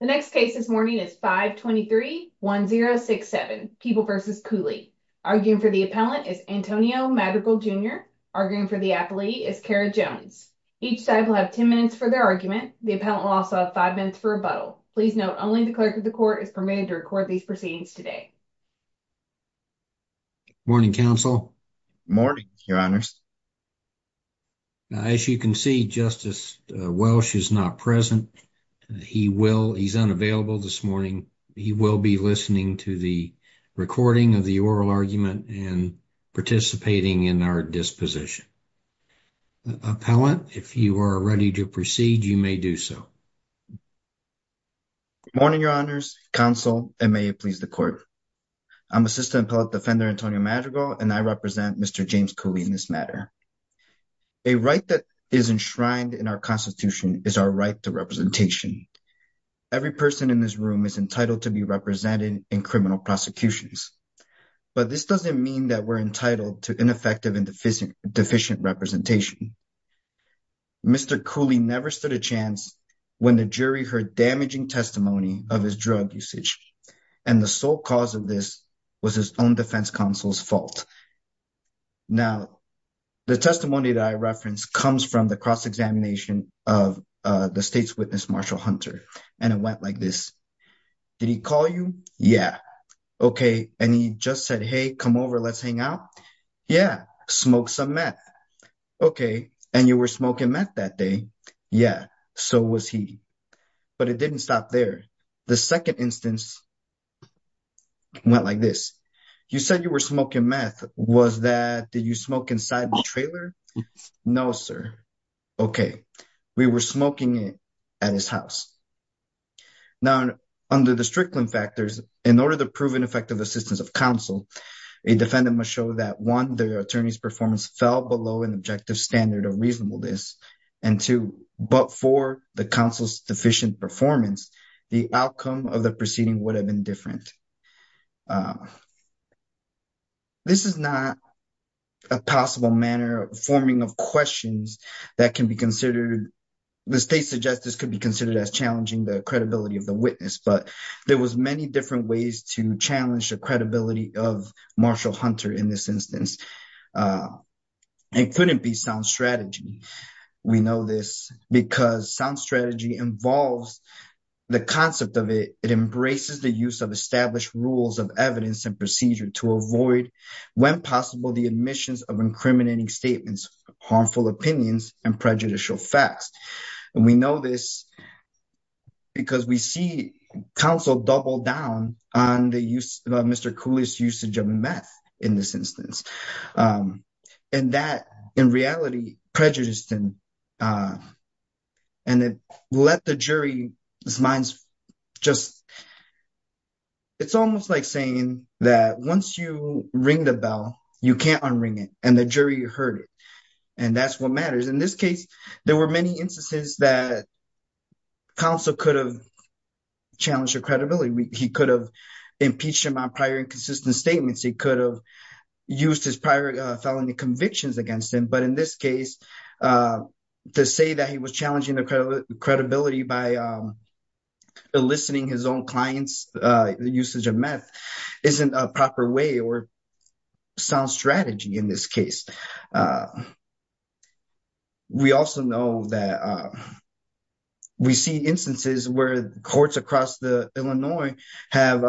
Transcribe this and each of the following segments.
The next case this morning is 5 23 1067 people versus Cooley arguing for the appellant is Antonio Madrigal jr. Arguing for the athlete is Kara jones. Each side will have 10 minutes for their argument. The appellant will also have five minutes for rebuttal. Please note only the clerk of the court is permitted to record these proceedings today. Morning council morning, your honors. As you can see, justice Welch is not present. He will, he's unavailable this morning. He will be listening to the recording of the oral argument and participating in our disposition. Appellant, if you are ready to proceed, you may do so morning, your honors council and may it please the court. I'm assistant a right that is enshrined in our constitution is our right to representation. Every person in this room is entitled to be represented in criminal prosecutions, but this doesn't mean that we're entitled to ineffective and deficient, deficient representation. Mr Cooley never stood a chance when the jury heard damaging testimony of his drug usage and the sole cause of this was his own defense counsel's fault. Now, the testimony that I referenced comes from the cross examination of the state's witness, Marshall Hunter. And it went like this. Did he call you? Yeah. Okay. And he just said, hey, come over. Let's hang out. Yeah. Smoke some meth. Okay. And you were smoking meth that day. Yeah. So was he. But it didn't stop there. The second instance went like this. You said you were smoking meth. Was that did you smoke inside the trailer? No, sir. Okay. We were smoking it at his house now under the strickland factors. In order to prove an effective assistance of counsel, a defendant must show that one, the attorney's performance fell below an objective standard of reasonableness and two. But for the council's deficient performance, the outcome of the proceeding would have been different. Uh, this is not a possible manner of forming of questions that can be considered. The state suggests this could be considered as challenging the credibility of the witness. But there was many different ways to challenge the credibility of Marshall Hunter in this instance. Uh, it couldn't be sound strategy. We know this because sound strategy involves the concept of it. It embraces the use of established rules of evidence and procedure to avoid when possible the admissions of incriminating statements, harmful opinions and prejudicial facts. And we know this because we see counsel double down on the use of Mr. Cooley's usage of meth in this instance. Um, and that in reality prejudiced him. Uh, and it let the jury minds just, it's almost like saying that once you ring the bell, you can't unring it and the jury heard it. And that's what matters. In this case, there were many instances that counsel could have challenged your credibility. He could have impeached him on prior inconsistent statements. He could have used his prior felony convictions against him. But in this case, uh, to say that he was challenging the credibility by, um, eliciting his own clients, uh, usage of meth isn't a proper way or sound strategy in this case. Uh, we also know that, uh, we see instances where courts across the Illinois have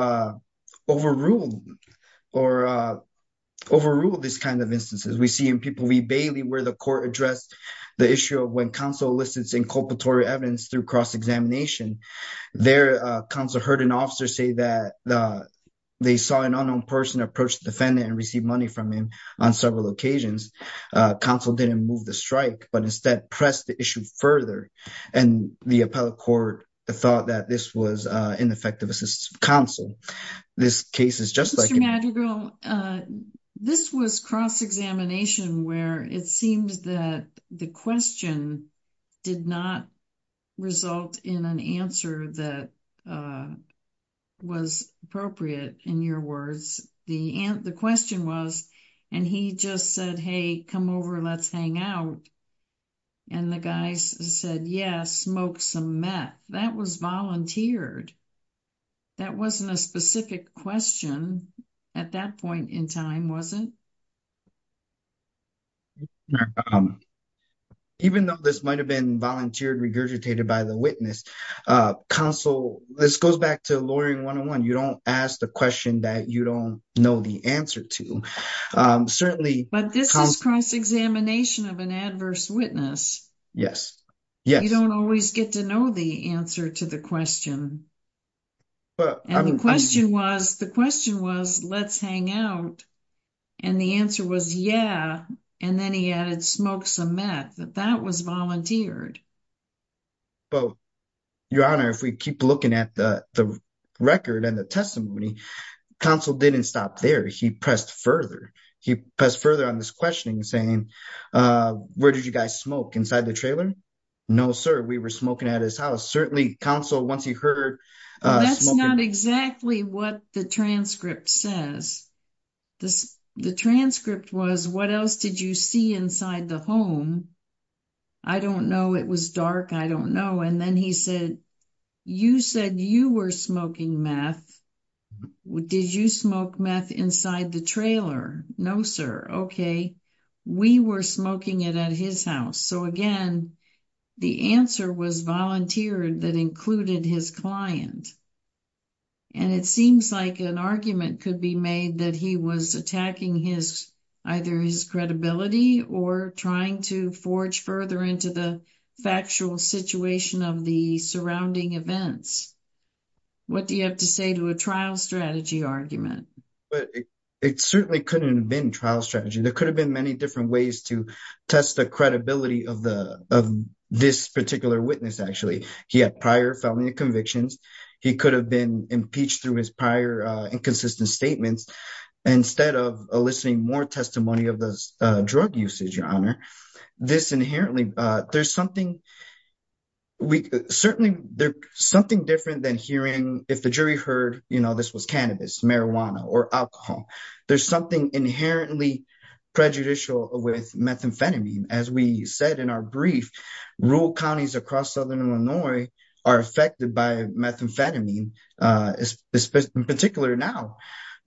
overruled or, uh, overruled this kind of instances. We see in people, we Bailey where the court addressed the issue of when counsel elicits inculpatory evidence through cross examination, their council heard an officer say that they saw an unknown person approached the defendant and received money from him on several occasions. Uh, counsel didn't move the strike, but instead pressed the issue further. And the appellate court thought that this was ineffective. Assists counsel. This case is just like, uh, this was cross examination where it seems that the question did not result in an answer that, uh, was appropriate. In your words, the the question was, and he just said, Hey, come over, let's hang out. And the guys said, yes, smoke some meth that was volunteered. That wasn't a specific question at that point in time, was it? Um, even though this might have been volunteered regurgitated by the witness, uh, counsel, this goes back to lowering one on one. You don't ask the question that you don't know the answer to. Um, certainly, but this is cross examination of an adverse witness. Yes, you don't always get to know the answer to the question. But the question was, the question was, let's hang out. And the answer was, yeah. And then he added smoke some meth that that was volunteered. But your honor, if we keep looking at the record and the testimony, counsel didn't stop there. He pressed further. He pressed further on this questioning, saying, uh, where did you guys smoke inside the trailer? No, sir. We were smoking at his house. Certainly counsel. Once he heard, that's not exactly what the transcript says. The transcript was, what else did you see inside the home? I don't know. It was dark. I don't know. And then he said, you said you were smoking meth. Did you smoke meth inside the trailer? No, sir. Okay. We were smoking it at his house. So again, the answer was volunteered that included his client. And it seems like an argument could be made that he was attacking his either his credibility or trying to forge further into the factual situation of the surrounding events. What do you have to say to a trial strategy argument? But it certainly couldn't have been trial strategy. There could have been many different ways to test the credibility of the of this felony convictions. He could have been impeached through his prior inconsistent statements. Instead of listening more testimony of the drug usage, your honor, this inherently there's something we certainly there's something different than hearing if the jury heard, you know, this was cannabis, marijuana or alcohol. There's something inherently prejudicial with methamphetamine. As we said in our brief, rural counties across southern Illinois are affected by methamphetamine, uh, in particular now,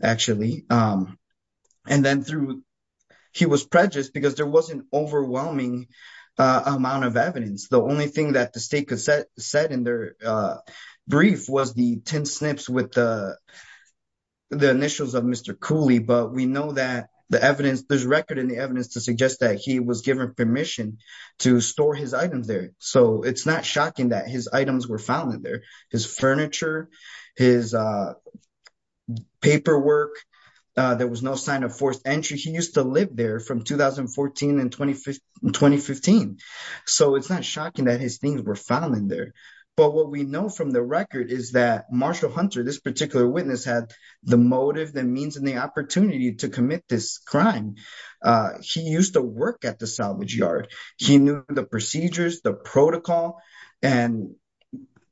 actually. Um, and then through he was prejudiced because there wasn't overwhelming amount of evidence. The only thing that the state could set said in their, uh, brief was the 10 snips with the the initials of Mr Cooley. But we know that the evidence there's record in the evidence to suggest that he was given permission to store his items there. So it's not shocking that his items were found in there. His furniture, his, uh, paperwork. Uh, there was no sign of forced entry. He used to live there from 2014 and 2015 2015. So it's not shocking that his things were found in there. But what we know from the record is that Marshall Hunter, this particular witness had the motive, the means and the opportunity to commit this crime. Uh, he used to work at the salvage yard. He knew the procedures, the protocol. And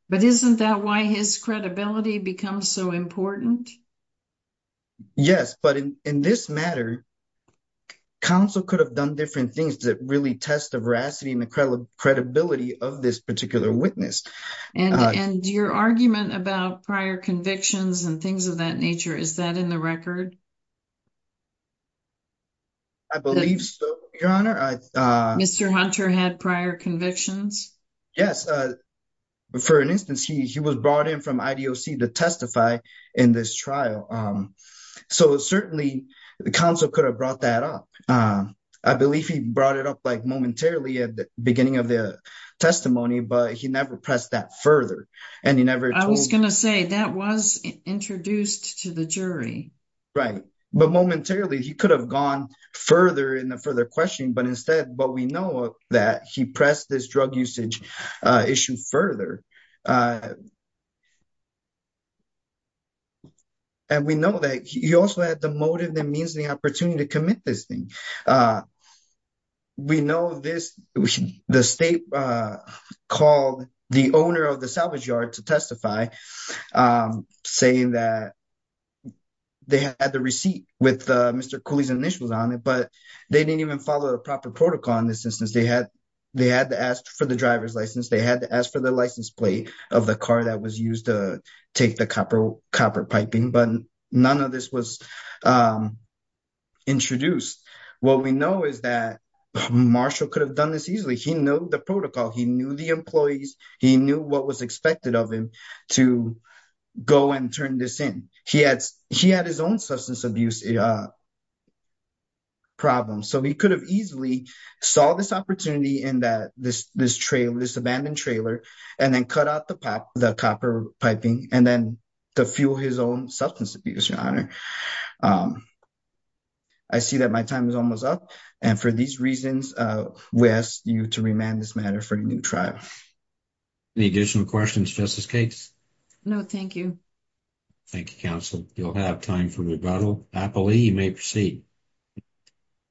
but isn't that why his credibility becomes so important? Yes. But in this matter, council could have done different things that really test the veracity and the credibility of this particular witness and your argument about prior convictions and things of that nature. Is that in the record? I believe so. Your honor, Mr Hunter had prior convictions. Yes. Uh, for an instance, he was brought in from I. D. O. C. To testify in this trial. Um, so certainly the council could have brought that up. Uh, I believe he brought it up like momentarily at the beginning of the testimony, but he never pressed that further. And he never was going to say that was introduced to the right. But momentarily he could have gone further in the further question. But instead, but we know that he pressed this drug usage issue further. Uh, and we know that he also had the motive. That means the opportunity to commit this thing. Uh, we know this. The state, uh, called the owner of the salvage yard to testify, um, saying that they had the receipt with Mr Cooley's initials on it, but they didn't even follow the proper protocol. In this instance, they had they had to ask for the driver's license. They had to ask for the license plate of the car that was used to take the copper copper piping. But none of this was, um, introduced. What we know is that Marshall could have done this easily. He knew the protocol. He knew the employees. He knew what was expected of him to go and turn this in. He had he had his own substance abuse, uh, problem. So he could have easily saw this opportunity in that this this trail, this abandoned trailer and then cut out the pop the copper piping and then to fuel his own substance abuse. Your honor. Um, I see that my time is almost up. And for these reasons, uh, we asked you to remand this matter for a new trial. Any additional questions? Justice Cakes? No, thank you. Thank you, counsel. You'll have time for rebuttal happily. You may proceed.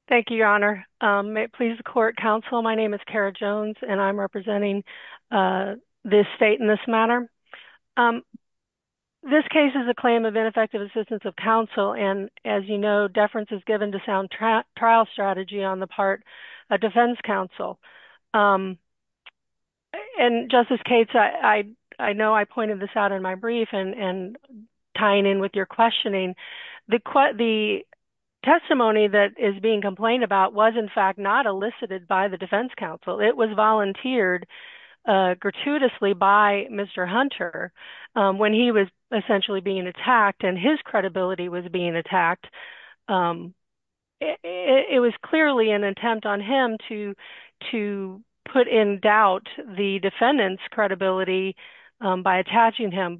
Thank you, Your Honor. Um, please, the court counsel. My name is Kara Jones, and I'm representing, uh, this state in this matter. Um, this case is a claim of ineffective assistance of counsel. And as you know, deference is given to strategy on the part of defense counsel. Um, and Justice Cates, I know I pointed this out in my brief and tying in with your questioning. The testimony that is being complained about was, in fact, not elicited by the defense counsel. It was volunteered gratuitously by Mr Hunter when he was essentially being attacked, and his credibility was being attacked. Um, it was clearly an attempt on him to put in doubt the defendant's credibility by attaching him.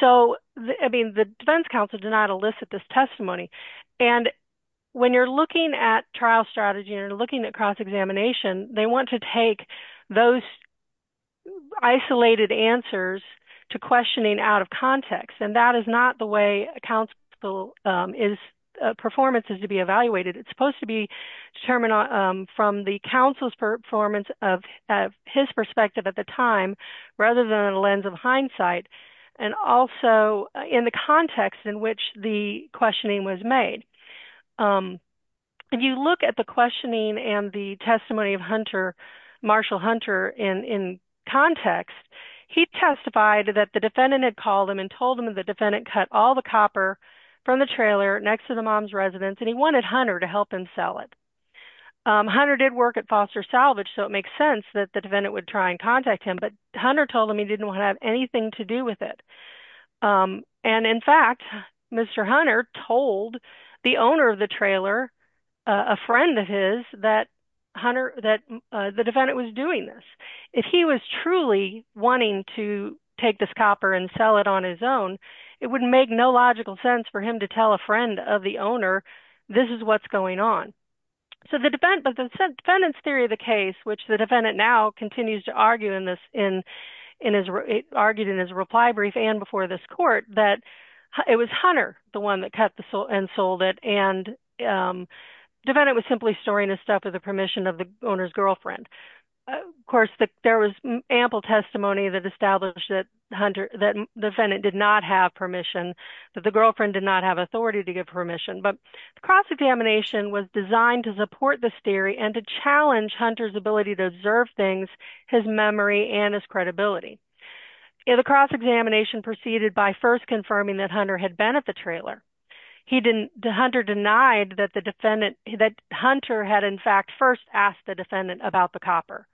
So, I mean, the defense counsel did not elicit this testimony. And when you're looking at trial strategy and looking at cross-examination, they want to take those isolated answers to questioning out of context. And that is not the way a counsel's performance is to be evaluated. It's supposed to be determined from the counsel's performance of his perspective at the time, rather than a lens of hindsight, and also in the context in which the questioning was made. If you look at the questioning and the testimony of Hunter, Marshall Hunter, in context, he testified that the defendant had called him and told him the defendant cut all the copper from the trailer next to the mom's residence, and he wanted Hunter to help him sell it. Hunter did work at Foster Salvage, so it makes sense that the defendant would try and contact him, but Hunter told him he didn't want to have anything to do with it. And, in fact, Mr. Hunter told the owner of the trailer, a friend of his, that the defendant was doing this. If he was truly wanting to take this copper and sell it on his own, it would make no logical sense for him to tell a friend of the owner, this is what's going on. But the defendant's theory of the case, which the defendant now continues to argue in his reply brief and before this court, that it was Hunter, the one that cut and sold it, and the defendant was simply storing his permission of the owner's girlfriend. Of course, there was ample testimony that established that the defendant did not have permission, that the girlfriend did not have authority to give permission, but the cross-examination was designed to support this theory and to challenge Hunter's ability to observe things, his memory, and his credibility. The cross-examination proceeded by first confirming that Hunter had been at the trailer. He didn't, Hunter denied that the defendant, that Hunter had, in fact, first asked the defendant about the copper.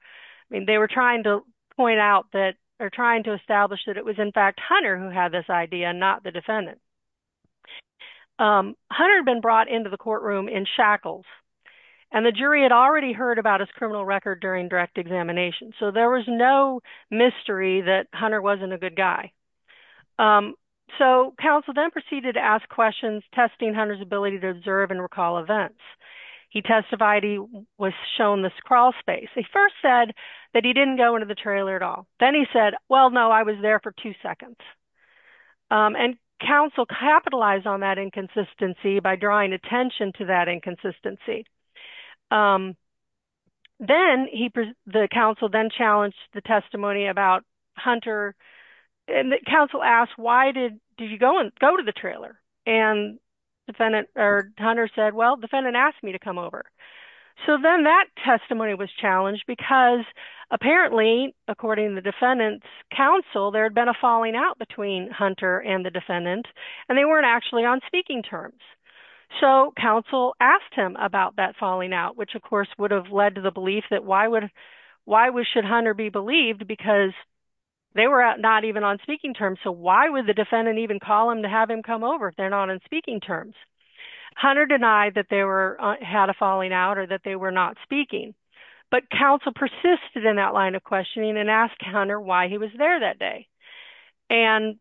I mean, they were trying to point out that, or trying to establish that it was, in fact, Hunter who had this idea, not the defendant. Hunter had been brought into the courtroom in shackles, and the jury had already heard about his criminal record during direct examination, so there was no mystery that Hunter wasn't a good guy. So, counsel then proceeded to question testing Hunter's ability to observe and recall events. He testified he was shown this crawlspace. He first said that he didn't go into the trailer at all. Then he said, well, no, I was there for two seconds, and counsel capitalized on that inconsistency by drawing attention to that inconsistency. Then, the counsel then challenged the testimony about Hunter, and the counsel asked, why did you go to the trailer? And Hunter said, well, defendant asked me to come over. So, then that testimony was challenged, because apparently, according to the defendant's counsel, there had been a falling out between Hunter and the defendant, and they weren't actually on speaking terms. So, counsel asked him about that falling out, which, of course, would have led to the belief that why should Hunter be believed, because they were not even on speaking terms, so why would the defendant even call him to have him come over if they're not on speaking terms? Hunter denied that they had a falling out or that they were not speaking, but counsel persisted in that line of questioning and asked Hunter why he was there that day. And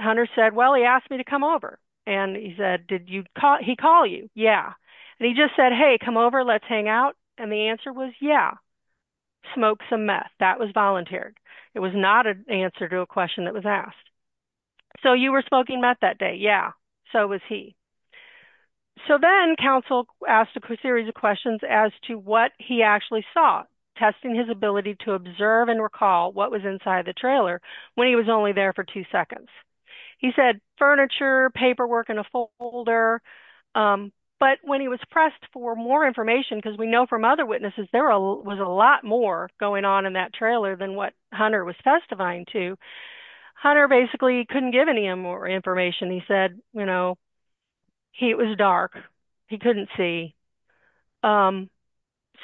Hunter said, well, he asked me to come over, and he said, did he call you? Yeah. And he just said, hey, come over, let's hang out, and the answer was, yeah, smoke some meth. That was voluntary. It was not an answer to a question that was asked. So, you were smoking meth that day? Yeah, so was he. So, then counsel asked a series of questions as to what he actually saw, testing his ability to observe and recall what was inside the trailer when he was only there for two seconds. He said furniture, paperwork in a folder, but when he was pressed for more information, because we know from other witnesses there was a lot more going on in that trailer than what Hunter was testifying to, Hunter basically couldn't give any more information. He said, you know, it was dark. He couldn't see.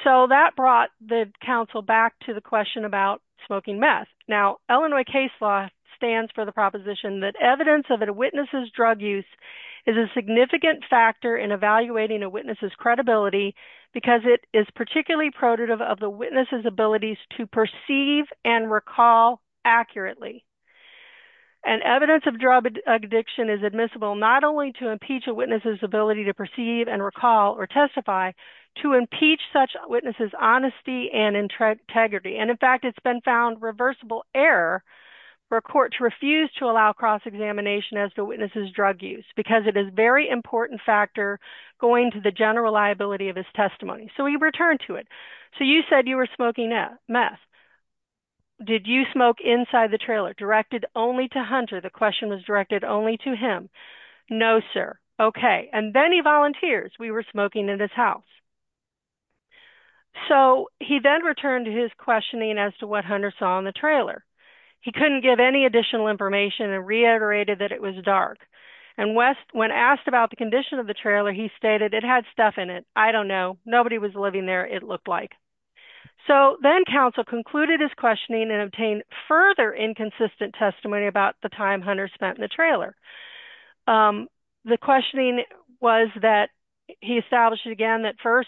So, that brought the counsel back to the question about smoking meth. Now, Illinois case law stands for the proposition that evidence of a witness's drug use is a significant factor in evaluating a witness's credibility because it is particularly productive of the witness's abilities to perceive and recall accurately. And evidence of drug addiction is admissible not only to impeach a witness's ability to perceive and recall or testify, to impeach such a witness's honesty and integrity. And, in fact, it's been found reversible error where courts refuse to allow cross-examination as the witness's drug use because it is a very important factor going to the general liability of his testimony. So, he returned to it. So, you said you were smoking meth. Did you smoke inside the trailer directed only to Hunter? The question was directed only to him. No, sir. Okay. And then he volunteers. We were smoking in his house. So, he then returned to his questioning as to what Hunter saw in the trailer. He couldn't give any additional information and reiterated that it was dark. And when asked about the condition of the trailer, he stated it had stuff in it. I don't know. Nobody was living there. It looked like. So, then counsel concluded his questioning and obtained further inconsistent testimony about the time Hunter spent in the trailer. The questioning was that he established again that first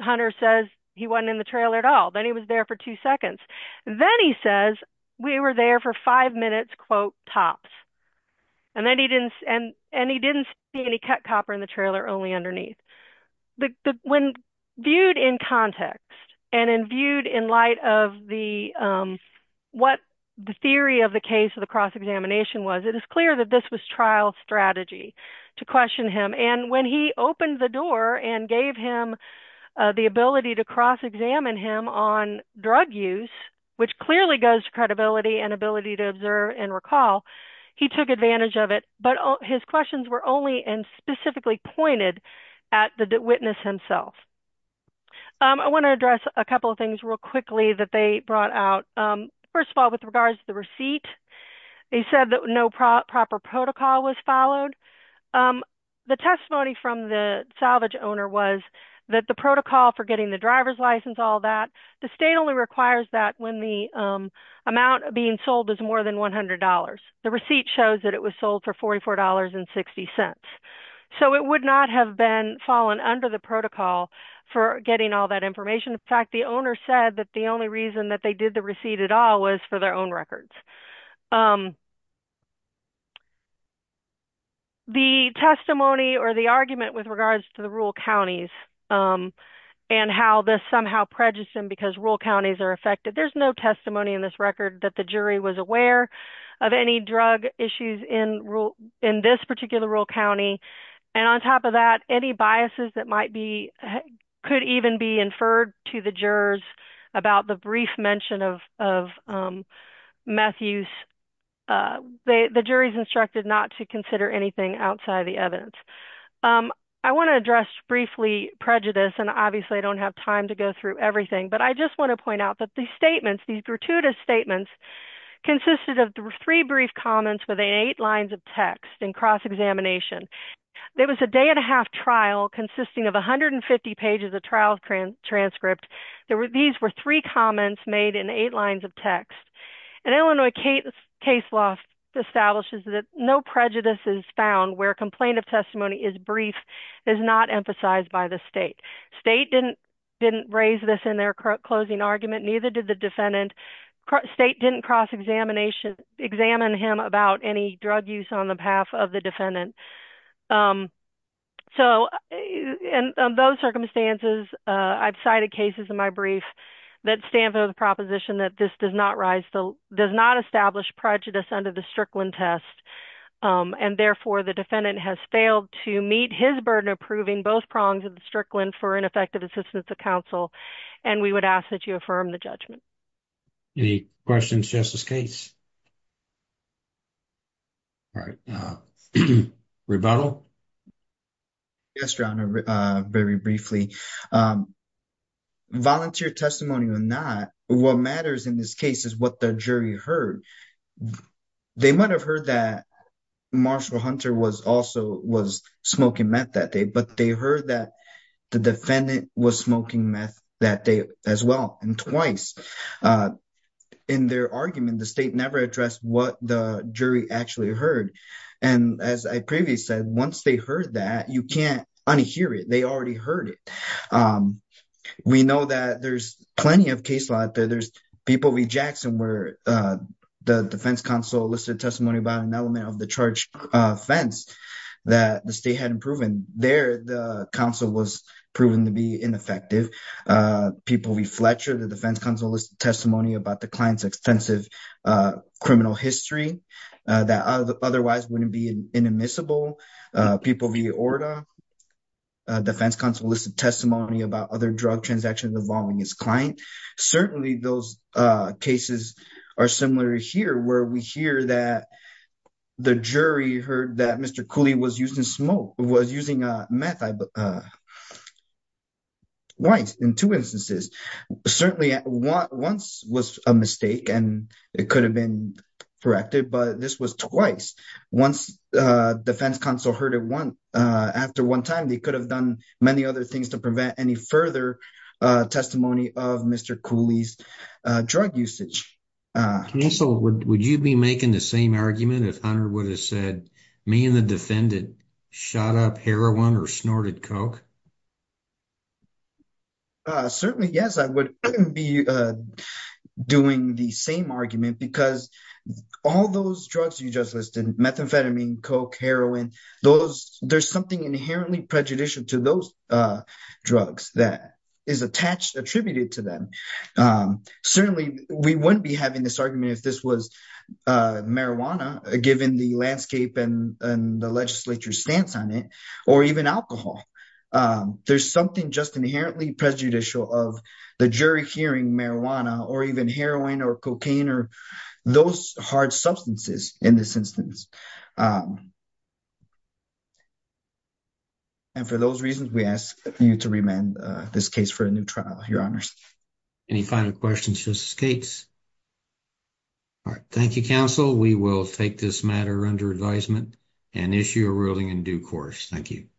Hunter says he wasn't in the trailer at all. Then he was there for two seconds. Then he says we were there for five minutes, quote, tops. And he didn't see any cut copper in the trailer, only underneath. When viewed in context and viewed in light of what the theory of the case of the cross-examination was, it is clear that this was trial strategy to question him. And when he opened the door and gave him the ability to cross-examine him on drug use, which clearly goes to credibility and ability to observe and recall, he took advantage of it. But his questions were only and specifically pointed at the witness himself. I want to address a couple of things real quickly that they brought out. First of all, with regards to the receipt, they said that no proper protocol was followed. The testimony from the salvage owner was that the protocol for getting the driver's license, all that, the state only requires that when the amount being sold is more than $100. The receipt shows that it was sold for $44.60. So it would not have been fallen under the protocol for getting all that information. In fact, the owner said that the only reason that they did the receipt at all was for their own records. The testimony or the argument with regards to the rural counties and how this somehow prejudiced them because rural counties are affected, there's no testimony in this record that the jury was aware of any drug issues in this particular rural county. And on top of that, any biases that might be, could even be inferred to the jurors about the brief mention of meth use, the jury's instructed not to consider anything outside of the evidence. I want to address briefly prejudice and obviously I don't have time to go through everything, but I just want to point out that these statements, these gratuitous statements consisted of three brief comments within eight lines of text in cross-examination. There was a day and a half trial consisting of 150 pages of trial transcript. These were three comments made in eight lines of text. And Illinois case law establishes that no prejudices found where complaint of testimony is brief is not emphasized by the state. State didn't raise this in their closing argument, neither did the defendant. State didn't cross-examine him about any drug use on the behalf of the defendant. So in those circumstances, I've cited cases in my brief that stand for the does not establish prejudice under the Strickland test. And therefore the defendant has failed to meet his burden of proving both prongs of the Strickland for ineffective assistance to counsel. And we would ask that you affirm the judgment. Any questions, Justice Gates? All right. Rebuttal? Yes, Your Honor. Very briefly. Um, volunteer testimony or not, what matters in this case is what the jury heard. They might have heard that Marshall Hunter was also was smoking meth that day, but they heard that the defendant was smoking meth that day as well, and twice. In their argument, the state never addressed what the jury actually heard. And as I previously said, once they heard that, you can't unhear it. They already heard it. We know that there's plenty of case law out there. There's people v. Jackson, where the defense counsel listed testimony about an element of the charged offense that the state hadn't proven. There, the counsel was proven to be ineffective. People v. Fletcher, the defense counsel, listed testimony about the client's extensive criminal history that otherwise wouldn't be inadmissible. People v. Orda, defense counsel listed testimony about other drug transactions involving his client. Certainly, those cases are similar here, where we hear that the jury heard that Mr. Cooley was using meth twice in two instances. Certainly, once was a mistake, and it could have been corrected, but this was twice. Once the defense counsel heard it after one time, they could have done many other things to prevent any further testimony of Mr. Cooley's drug usage. Counsel, would you be making the same argument if Hunter would have said, me and the defendant shot up heroin or snorted coke? Certainly, yes, I would be doing the same argument, because all those drugs you just listed, methamphetamine, coke, heroin, there's something inherently prejudicial to those drugs that is attributed to them. Certainly, we wouldn't be having this argument if this was marijuana, given the landscape and the legislature's stance on it, or even alcohol. There's something just inherently prejudicial of the jury hearing marijuana, or even heroin, or cocaine, or those hard substances in this instance. And for those reasons, we ask you to remand this case for a new trial, your honors. Any final questions, Justice Gates? All right. Thank you, counsel. We will take this matter under advisement and issue a ruling in due course. Thank you.